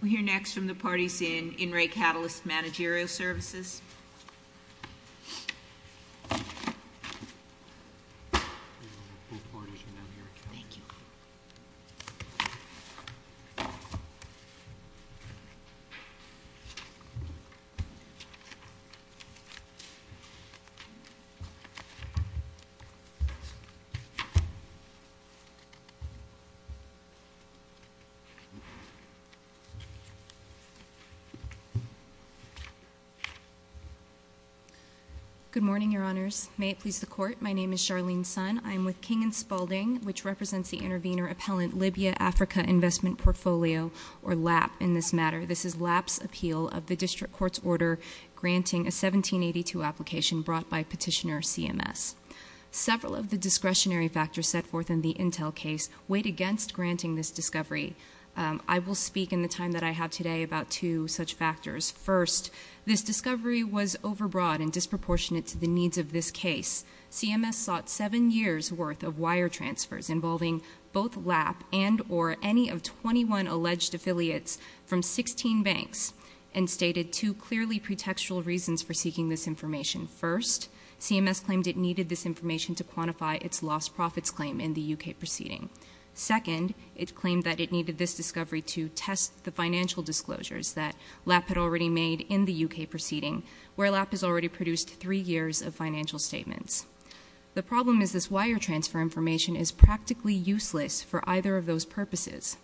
We'll hear next from the parties in In Re. Catalyst Managerial Services. Good morning, Your Honors. May it please the Court, my name is Charlene Sun. I'm with King & Spaulding, which represents the Intervenor Appellant Libya-Africa Investment Portfolio, or LAP in this matter. This is LAP's appeal of the District Court's order granting a 1782 application brought by Petitioner CMS. Several of the discretionary factors set forth in the Intel case wait against granting this discovery. I will speak in the time that I have today about two such factors. First, this discovery was overbroad and disproportionate to the needs of this case. CMS sought seven years' worth of wire transfers involving both LAP and or any of 21 alleged affiliates from 16 banks and stated two clearly pretextual reasons for seeking this information. First, CMS claimed it needed this information to quantify its lost profits claim in the U.K. proceeding. Second, it claimed that it needed this discovery to test the financial disclosures that LAP had already made in the U.K. proceeding, where LAP has already produced three years of financial statements. The problem is this wire transfer information is practically useless for either of those purposes.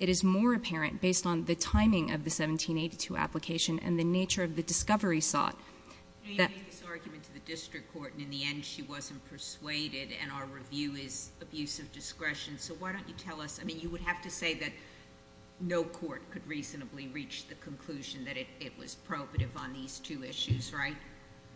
It is more apparent based on the timing of the 1782 application and the nature of the discovery sought that- You made this argument to the District Court, and in the end, she wasn't persuaded, and our review is abusive discretion. So why don't you tell us? I mean, you would have to say that no court could reasonably reach the conclusion that it was probative on these two issues, right?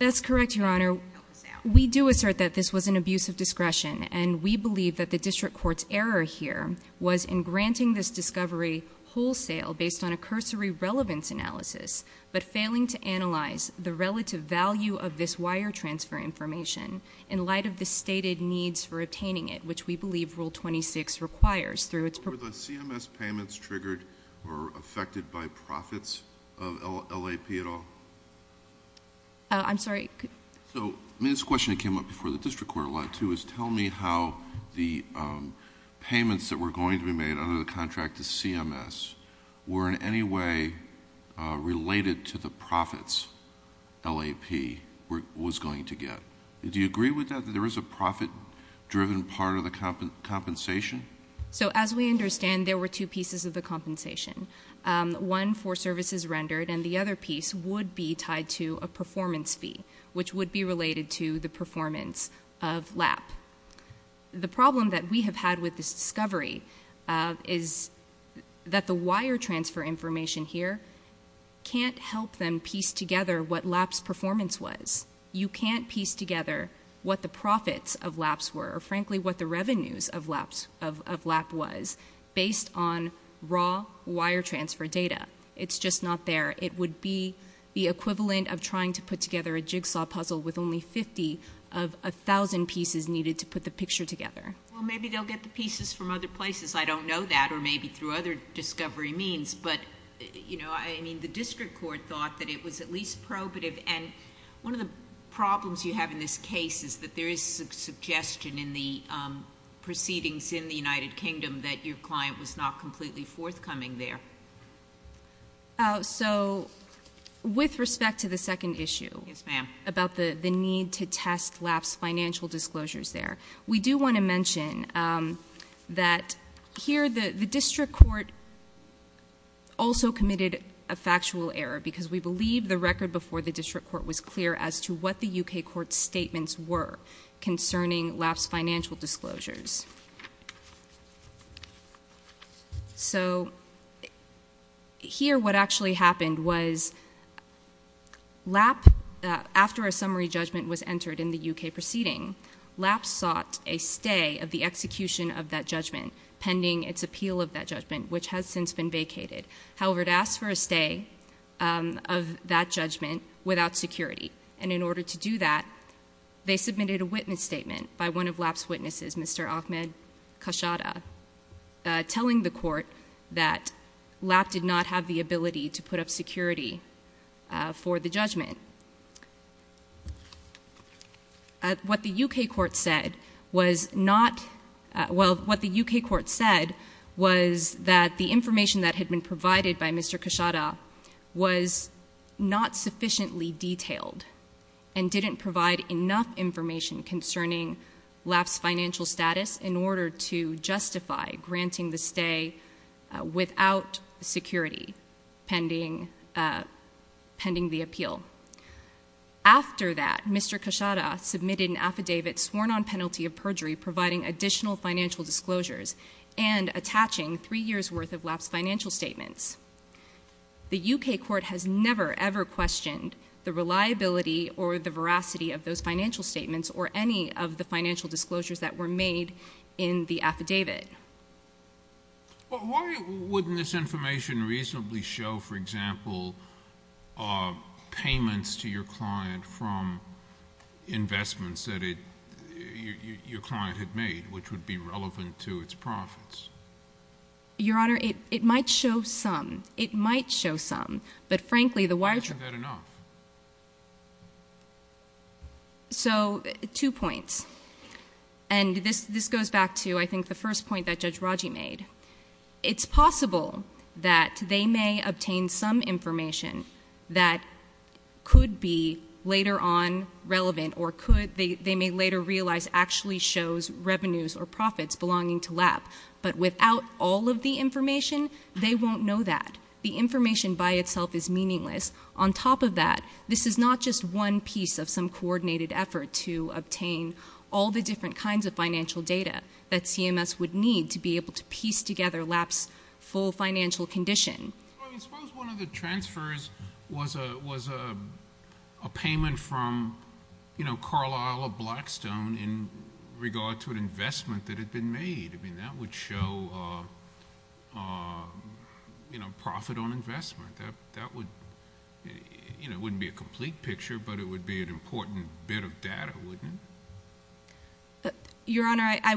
That's correct, Your Honor. Help us out. We do assert that this was an abuse of discretion, and we believe that the District Court's error here was in granting this discovery wholesale based on a cursory relevance analysis, but failing to analyze the relative value of this wire transfer information in light of the stated needs for obtaining it, which we believe Rule 26 requires through its- Were the CMS payments triggered or affected by profits of LAP at all? I'm sorry? I mean, this question came up before the District Court a lot, too, is tell me how the payments that were going to be made under the contract to CMS were in any way related to the profits LAP was going to get. Do you agree with that, that there is a profit-driven part of the compensation? So as we understand, there were two pieces of the compensation, one for services rendered, and the other piece would be tied to a performance fee, which would be related to the performance of LAP. The problem that we have had with this discovery is that the wire transfer information here can't help them piece together what LAP's performance was. You can't piece together what the profits of LAP's were or, frankly, what the revenues of LAP was based on raw wire transfer data. It's just not there. It would be the equivalent of trying to put together a jigsaw puzzle with only 50 of 1,000 pieces needed to put the picture together. Well, maybe they'll get the pieces from other places. I don't know that, or maybe through other discovery means. But, you know, I mean, the District Court thought that it was at least probative, and one of the problems you have in this case is that there is a suggestion in the proceedings in the United Kingdom that your client was not completely forthcoming there. So with respect to the second issue about the need to test LAP's financial disclosures there, we do want to mention that here the District Court also committed a factual error because we believe the record before the District Court was clear as to what the U.K. Court's statements were concerning LAP's financial disclosures. So here what actually happened was LAP, after a summary judgment was entered in the U.K. proceeding, LAP sought a stay of the execution of that judgment pending its appeal of that judgment, which has since been vacated. However, it asked for a stay of that judgment without security. And in order to do that, they submitted a witness statement by one of LAP's witnesses, Mr. Ahmed Khashoggi, telling the court that LAP did not have the ability to put up security for the judgment. What the U.K. Court said was not — well, what the U.K. Court said was that the information that had been provided by Mr. Khashoggi was not sufficiently detailed and didn't provide enough information concerning LAP's financial status in order to justify granting the stay without security pending the appeal. After that, Mr. Khashoggi submitted an affidavit sworn on penalty of perjury providing additional financial disclosures and attaching three years' worth of LAP's financial statements. The U.K. Court has never, ever questioned the reliability or the veracity of those financial statements or any of the financial disclosures that were made in the affidavit. Why wouldn't this information reasonably show, for example, payments to your client from investments that your client had made, which would be relevant to its profits? Your Honor, it might show some. It might show some. But frankly, the wiretrap — Isn't that enough? So, two points. And this goes back to, I think, the first point that Judge Raji made. It's possible that they may obtain some information that could be later on relevant or they may later realize actually shows revenues or profits belonging to LAP. But without all of the information, they won't know that. The information by itself is meaningless. On top of that, this is not just one piece of some coordinated effort to obtain all the different kinds of financial data that CMS would need to be able to piece together LAP's full financial condition. Suppose one of the transfers was a payment from Carlisle or Blackstone in regard to an investment that had been made. I mean, that would show profit on investment. That wouldn't be a complete picture, but it would be an important bit of data, wouldn't it? Your Honor, I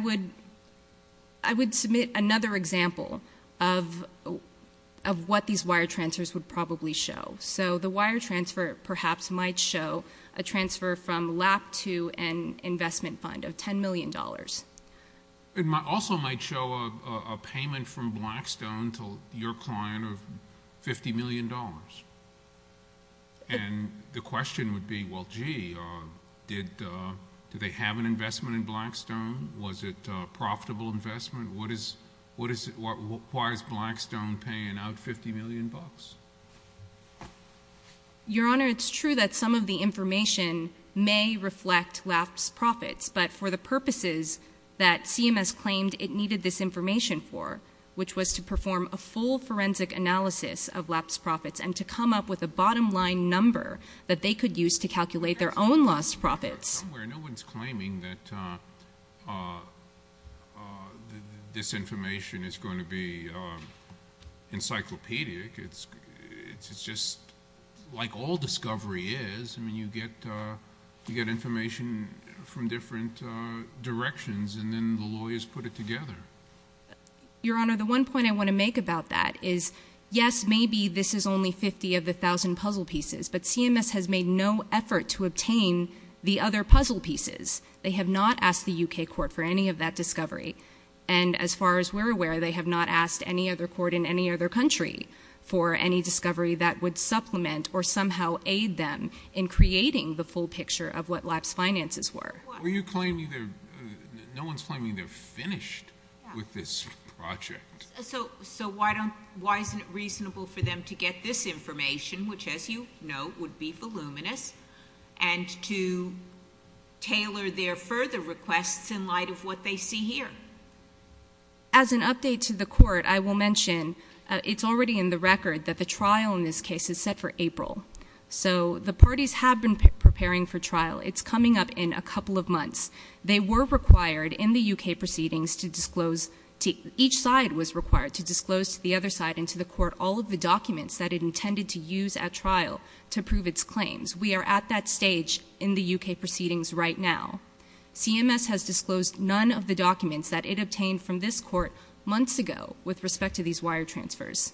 would submit another example of what these wire transfers would probably show. So the wire transfer perhaps might show a transfer from LAP to an investment fund of $10 million. It also might show a payment from Blackstone to your client of $50 million. And the question would be, well, gee, did they have an investment in Blackstone? Was it a profitable investment? Why is Blackstone paying out $50 million? Your Honor, it's true that some of the information may reflect LAP's profits, but for the purposes that CMS claimed it needed this information for, which was to perform a full forensic analysis of LAP's profits and to come up with a bottom-line number that they could use to calculate their own lost profits. No one's claiming that this information is going to be encyclopedic. It's just like all discovery is. I mean, you get information from different directions, and then the lawyers put it together. Your Honor, the one point I want to make about that is, yes, maybe this is only 50 of the 1,000 puzzle pieces, but CMS has made no effort to obtain the other puzzle pieces. They have not asked the U.K. court for any of that discovery. And as far as we're aware, they have not asked any other court in any other country for any discovery that would supplement or somehow aid them in creating the full picture of what LAP's finances were. No one's claiming they're finished with this project. So why isn't it reasonable for them to get this information, which, as you know, would be voluminous, and to tailor their further requests in light of what they see here? As an update to the court, I will mention it's already in the record that the trial in this case is set for April. So the parties have been preparing for trial. It's coming up in a couple of months. They were required in the U.K. proceedings to disclose to each side was required to disclose to the other side and to the court all of the documents that it intended to use at trial to prove its claims. We are at that stage in the U.K. proceedings right now. CMS has disclosed none of the documents that it obtained from this court months ago with respect to these wire transfers.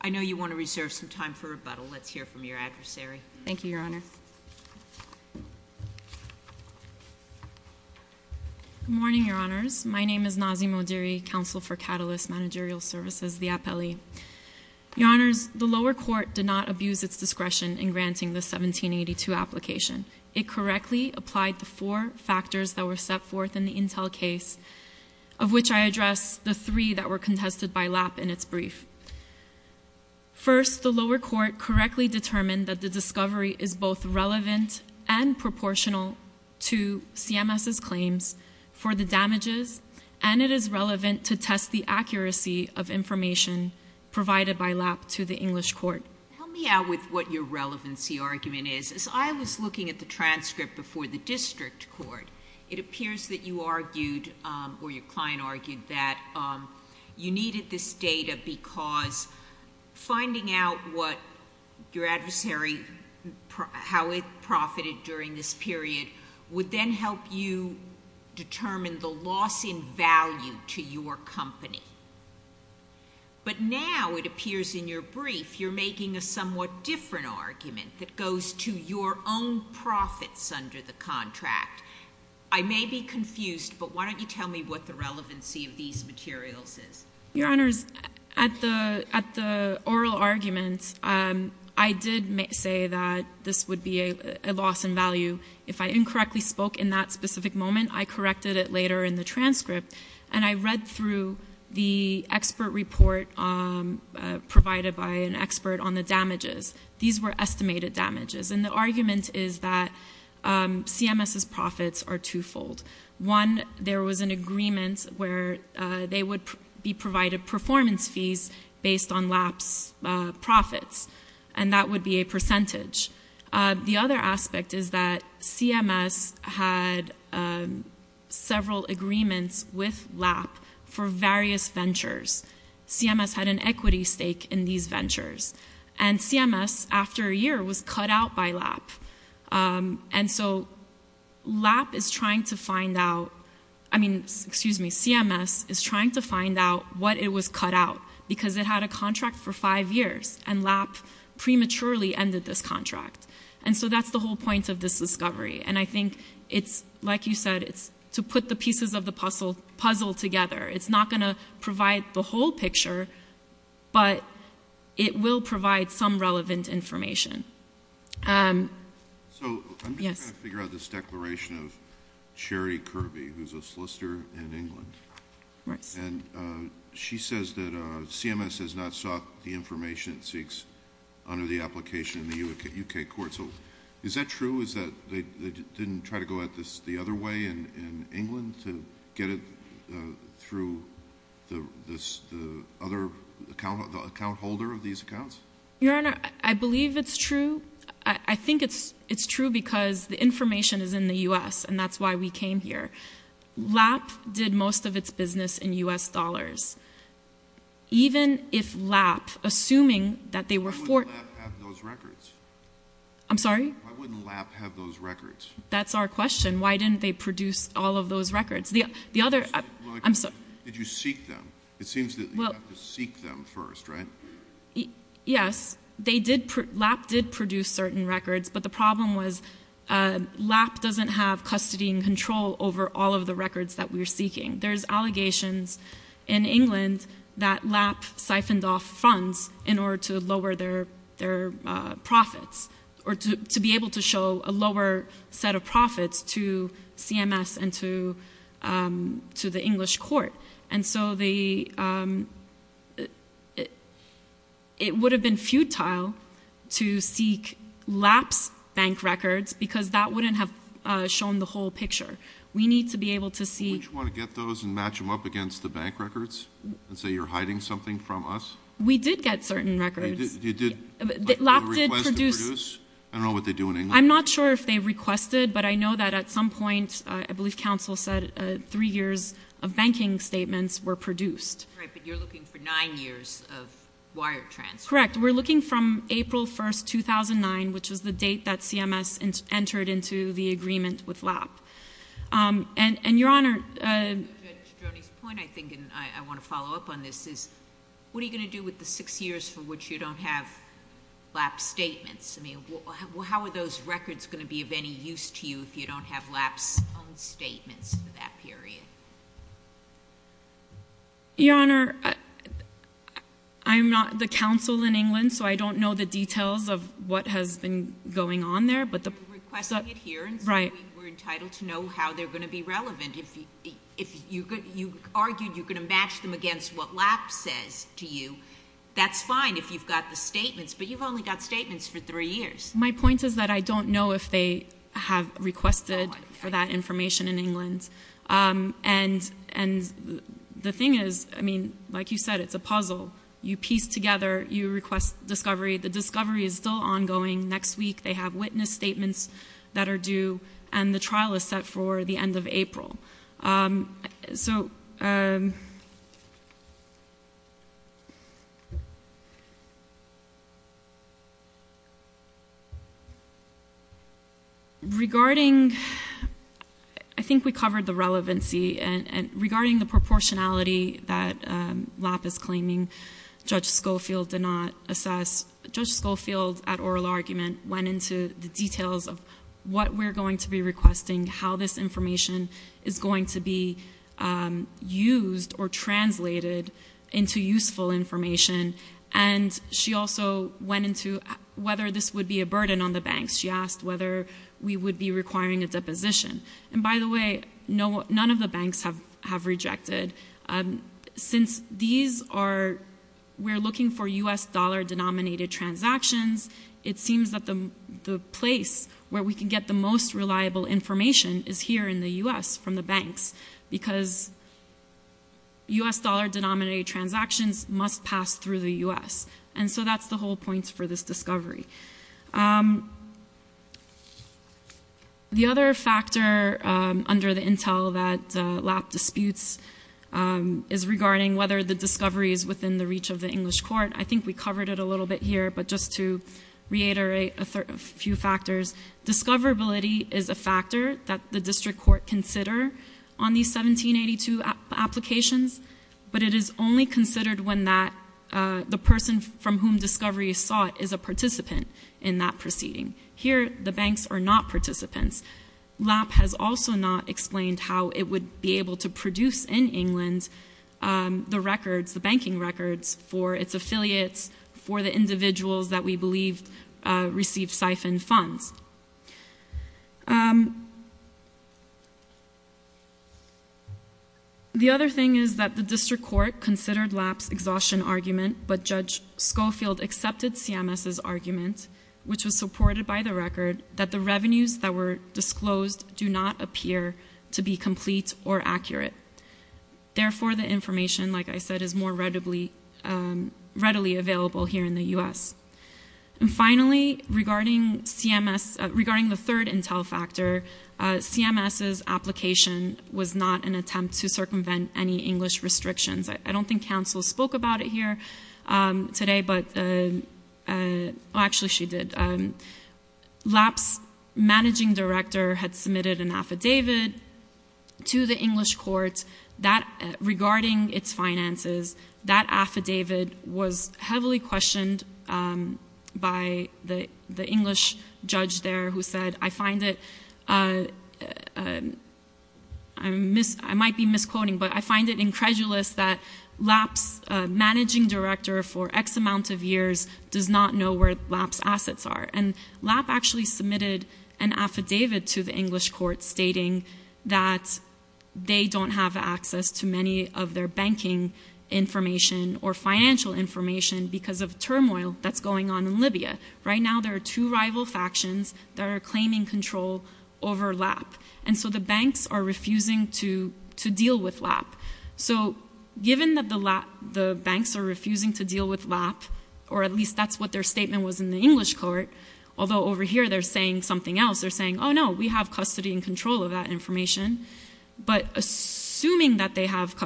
I know you want to reserve some time for rebuttal. Let's hear from your adversary. Thank you, Your Honor. Good morning, Your Honors. My name is Nazi Modiri, Counsel for Catalyst Managerial Services, the appellee. Your Honors, the lower court did not abuse its discretion in granting the 1782 application. It correctly applied the four factors that were set forth in the Intel case, of which I address the three that were contested by Lapp in its brief. First, the lower court correctly determined that the discovery is both relevant and proportional to CMS's claims for the damages, and it is relevant to test the accuracy of information provided by Lapp to the English court. Help me out with what your relevancy argument is. As I was looking at the transcript before the district court, it appears that you argued, or your client argued, that you needed this data because finding out what your adversary, how it profited during this period would then help you determine the loss in value to your company. But now it appears in your brief you're making a somewhat different argument that goes to your own profits under the contract. I may be confused, but why don't you tell me what the relevancy of these materials is. Your Honors, at the oral argument, I did say that this would be a loss in value. If I incorrectly spoke in that specific moment, I corrected it later in the transcript, and I read through the expert report provided by an expert on the damages. These were estimated damages, and the argument is that CMS's profits are twofold. One, there was an agreement where they would be provided performance fees based on Lapp's profits, and that would be a percentage. The other aspect is that CMS had several agreements with Lapp for various ventures. CMS had an equity stake in these ventures, and CMS, after a year, was cut out by Lapp. And so Lapp is trying to find out, I mean, excuse me, CMS is trying to find out what it was cut out, because it had a contract for five years, and Lapp prematurely ended this contract. And so that's the whole point of this discovery. And I think it's, like you said, it's to put the pieces of the puzzle together. It's not going to provide the whole picture, but it will provide some relevant information. So I'm trying to figure out this declaration of Sherry Kirby, who's a solicitor in England. And she says that CMS has not sought the information it seeks under the application in the U.K. courts. Is that true? Is that they didn't try to go at this the other way in England to get it through the other account holder of these accounts? Your Honor, I believe it's true. I think it's true because the information is in the U.S., and that's why we came here. Lapp did most of its business in U.S. dollars. Even if Lapp, assuming that they were for- Why wouldn't Lapp have those records? I'm sorry? Why wouldn't Lapp have those records? That's our question. Why didn't they produce all of those records? Did you seek them? It seems that you have to seek them first, right? Yes. Lapp did produce certain records, but the problem was Lapp doesn't have custody and control over all of the records that we're seeking. There's allegations in England that Lapp siphoned off funds in order to lower their profits, or to be able to show a lower set of profits to CMS and to the English court. And so it would have been futile to seek Lapp's bank records because that wouldn't have shown the whole picture. We need to be able to see- Would you want to get those and match them up against the bank records and say you're hiding something from us? We did get certain records. You did? Lapp did produce- I don't know what they do in England. I'm not sure if they requested, but I know that at some point, I believe counsel said, three years of banking statements were produced. Right, but you're looking for nine years of wire transfer. Correct. We're looking from April 1, 2009, which is the date that CMS entered into the agreement with Lapp. And, Your Honor- To Jody's point, I think, and I want to follow up on this, is what are you going to do with the six years for which you don't have Lapp's statements? I mean, how are those records going to be of any use to you if you don't have Lapp's own statements for that period? Your Honor, I'm not the counsel in England, so I don't know the details of what has been going on there, but the- We're requesting it here, and so we're entitled to know how they're going to be relevant. If you argued you're going to match them against what Lapp says to you, that's fine if you've got the statements, but you've only got statements for three years. My point is that I don't know if they have requested for that information in England. And the thing is, I mean, like you said, it's a puzzle. You piece together, you request discovery. The discovery is still ongoing. Next week, they have witness statements that are due, and the trial is set for the end of April. So regarding-I think we covered the relevancy. And regarding the proportionality that Lapp is claiming Judge Schofield did not assess, Judge Schofield, at oral argument, went into the details of what we're going to be requesting, how this information is going to be used or translated into useful information, and she also went into whether this would be a burden on the banks. She asked whether we would be requiring a deposition. And by the way, none of the banks have rejected. Since these are-we're looking for U.S. dollar-denominated transactions, it seems that the place where we can get the most reliable information is here in the U.S. from the banks, because U.S. dollar-denominated transactions must pass through the U.S., and so that's the whole point for this discovery. The other factor under the intel that Lapp disputes is regarding whether the discovery is within the reach of the English court. I think we covered it a little bit here, but just to reiterate a few factors, discoverability is a factor that the district court consider on these 1782 applications, but it is only considered when that-the person from whom discovery is sought is a participant. Here, the banks are not participants. Lapp has also not explained how it would be able to produce in England the records, the banking records for its affiliates, for the individuals that we believe received siphoned funds. The other thing is that the district court considered Lapp's exhaustion argument, but Judge Schofield accepted CMS's argument, which was supported by the record, that the revenues that were disclosed do not appear to be complete or accurate. Therefore, the information, like I said, is more readily available here in the U.S. And finally, regarding CMS-regarding the third intel factor, CMS's application was not an attempt to circumvent any English restrictions. I don't think counsel spoke about it here today, but-actually, she did. Lapp's managing director had submitted an affidavit to the English court regarding its finances. That affidavit was heavily questioned by the English judge there who said, I find it-I might be misquoting, but I find it incredulous that Lapp's managing director for X amount of years does not know where Lapp's assets are. And Lapp actually submitted an affidavit to the English court stating that they don't have access to many of their banking information or financial information because of turmoil that's going on in Libya. Right now, there are two rival factions that are claiming control over Lapp. And so the banks are refusing to deal with Lapp. So given that the banks are refusing to deal with Lapp, or at least that's what their statement was in the English court, although over here they're saying something else. They're saying, oh, no, we have custody and control of that information. But assuming that they have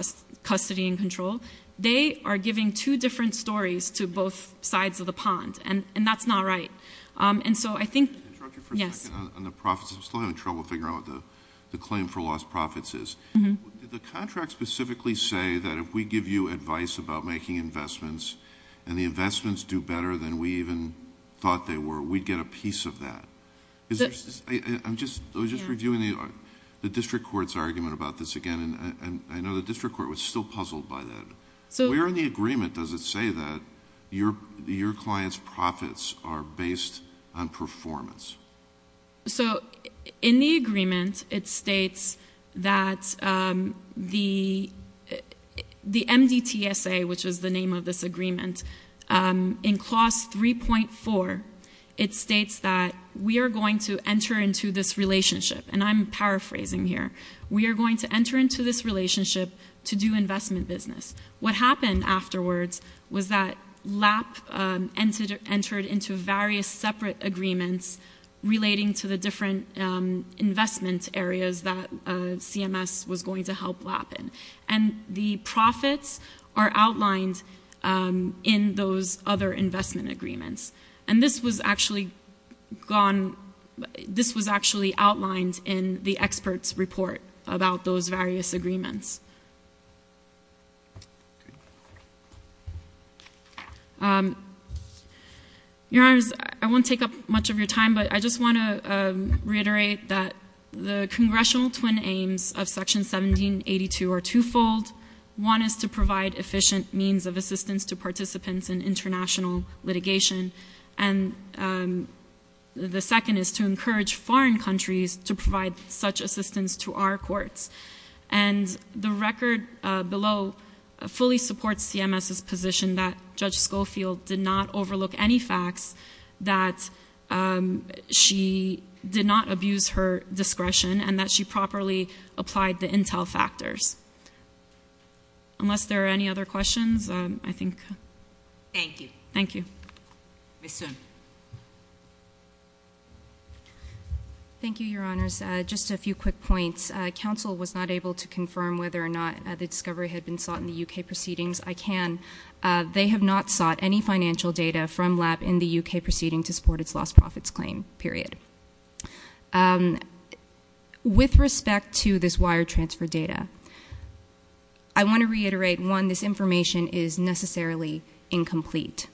custody and control, they are giving two different stories to both sides of the pond. And that's not right. And so I think... Can I interrupt you for a second on the profits? I'm still having trouble figuring out what the claim for lost profits is. Did the contract specifically say that if we give you advice about making investments and the investments do better than we even thought they were, we'd get a piece of that? I was just reviewing the district court's argument about this again, and I know the district court was still puzzled by that. Where in the agreement does it say that your clients' profits are based on performance? So in the agreement, it states that the MDTSA, which is the name of this agreement, in clause 3.4, it states that we are going to enter into this relationship, and I'm paraphrasing here. We are going to enter into this relationship to do investment business. What happened afterwards was that LAP entered into various separate agreements relating to the different investment areas that CMS was going to help LAP in. And the profits are outlined in those other investment agreements. And this was actually outlined in the expert's report about those various agreements. Your Honors, I won't take up much of your time, but I just want to reiterate that the congressional twin aims of Section 1782 are twofold. One is to provide efficient means of assistance to participants in international litigation, and the second is to encourage foreign countries to provide such assistance to our courts. And the record below fully supports CMS's position that Judge Schofield did not overlook any facts, that she did not abuse her discretion, and that she properly applied the intel factors. Unless there are any other questions, I think. Thank you. Thank you. Ms. Soon. Thank you, Your Honors. Just a few quick points. Council was not able to confirm whether or not the discovery had been sought in the U.K. proceedings. I can. They have not sought any financial data from LAP in the U.K. proceeding to support its lost profits claim, period. With respect to this wire transfer data, I want to reiterate, one, this information is necessarily incomplete.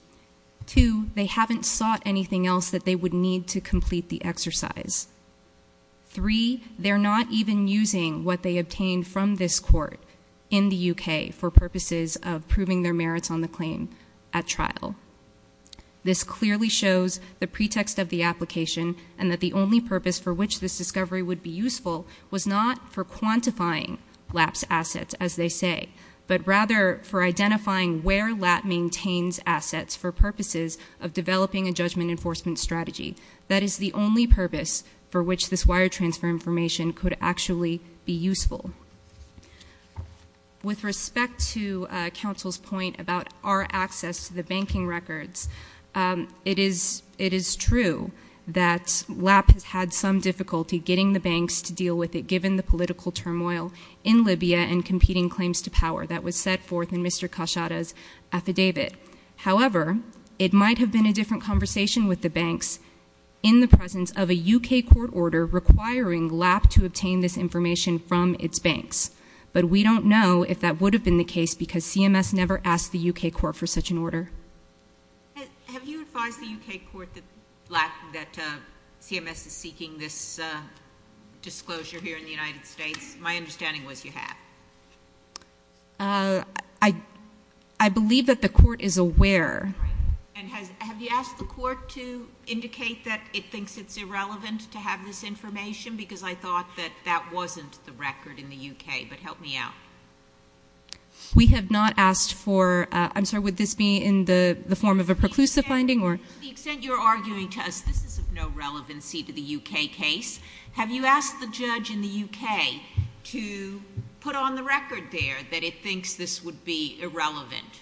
Two, they haven't sought anything else that they would need to complete the exercise. Three, they're not even using what they obtained from this court in the U.K. for purposes of proving their merits on the claim at trial. This clearly shows the pretext of the application and that the only purpose for which this discovery would be useful was not for quantifying LAP's assets, as they say, but rather for identifying where LAP maintains assets for purposes of developing a judgment enforcement strategy. That is the only purpose for which this wire transfer information could actually be useful. With respect to Council's point about our access to the banking records, it is true that LAP has had some difficulty getting the banks to deal with it, given the political turmoil in Libya and competing claims to power that was set forth in Mr. Khashoggi's affidavit. However, it might have been a different conversation with the banks in the presence of a U.K. court order requiring LAP to obtain this information from its banks, but we don't know if that would have been the case because CMS never asked the U.K. court for such an order. Have you advised the U.K. court that CMS is seeking this disclosure here in the United States? My understanding was you have. I believe that the court is aware. And have you asked the court to indicate that it thinks it's irrelevant to have this information because I thought that that wasn't the record in the U.K.? But help me out. We have not asked foróI'm sorry, would this be in the form of a preclusive finding? To the extent you're arguing to us this is of no relevancy to the U.K. case, have you asked the judge in the U.K. to put on the record there that it thinks this would be irrelevant?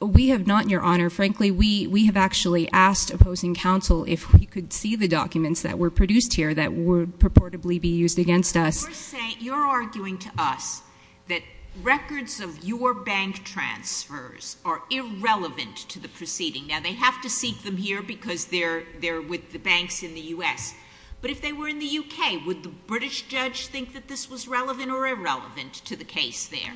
We have not, Your Honor. Frankly, we have actually asked opposing counsel if we could see the documents that were produced here that would purportedly be used against us. You're arguing to us that records of your bank transfers are irrelevant to the proceeding. Now, they have to seek them here because they're with the banks in the U.S. But if they were in the U.K., would the British judge think that this was relevant or irrelevant to the case there?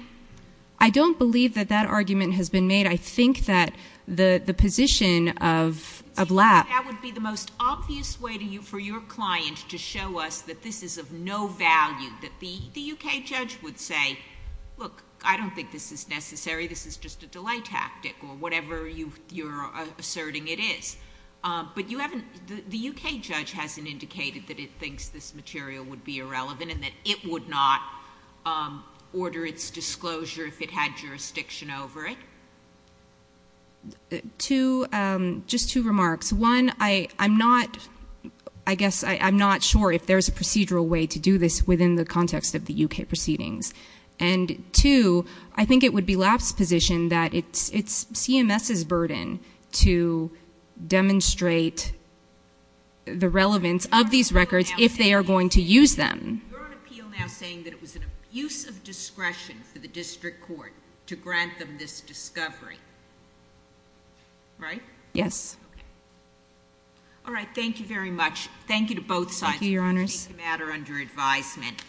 I don't believe that that argument has been made. I think that the position of Lappó That would be the most obvious way for your client to show us that this is of no value, that the U.K. judge would say, look, I don't think this is necessary. This is just a delay tactic or whatever you're asserting it is. But the U.K. judge hasn't indicated that it thinks this material would be irrelevant and that it would not order its disclosure if it had jurisdiction over it. Just two remarks. One, I guess I'm not sure if there's a procedural way to do this within the context of the U.K. proceedings. And two, I think it would be Lapp's position that it's CMS's burden to demonstrate the relevance of these records if they are going to use them. You're on appeal now saying that it was an abuse of discretion for the district court to grant them this discovery. Right? Yes. Okay. All right. Thank you very much. Thank you to both sides. Thank you, Your Honors. We will take the matter under advisement.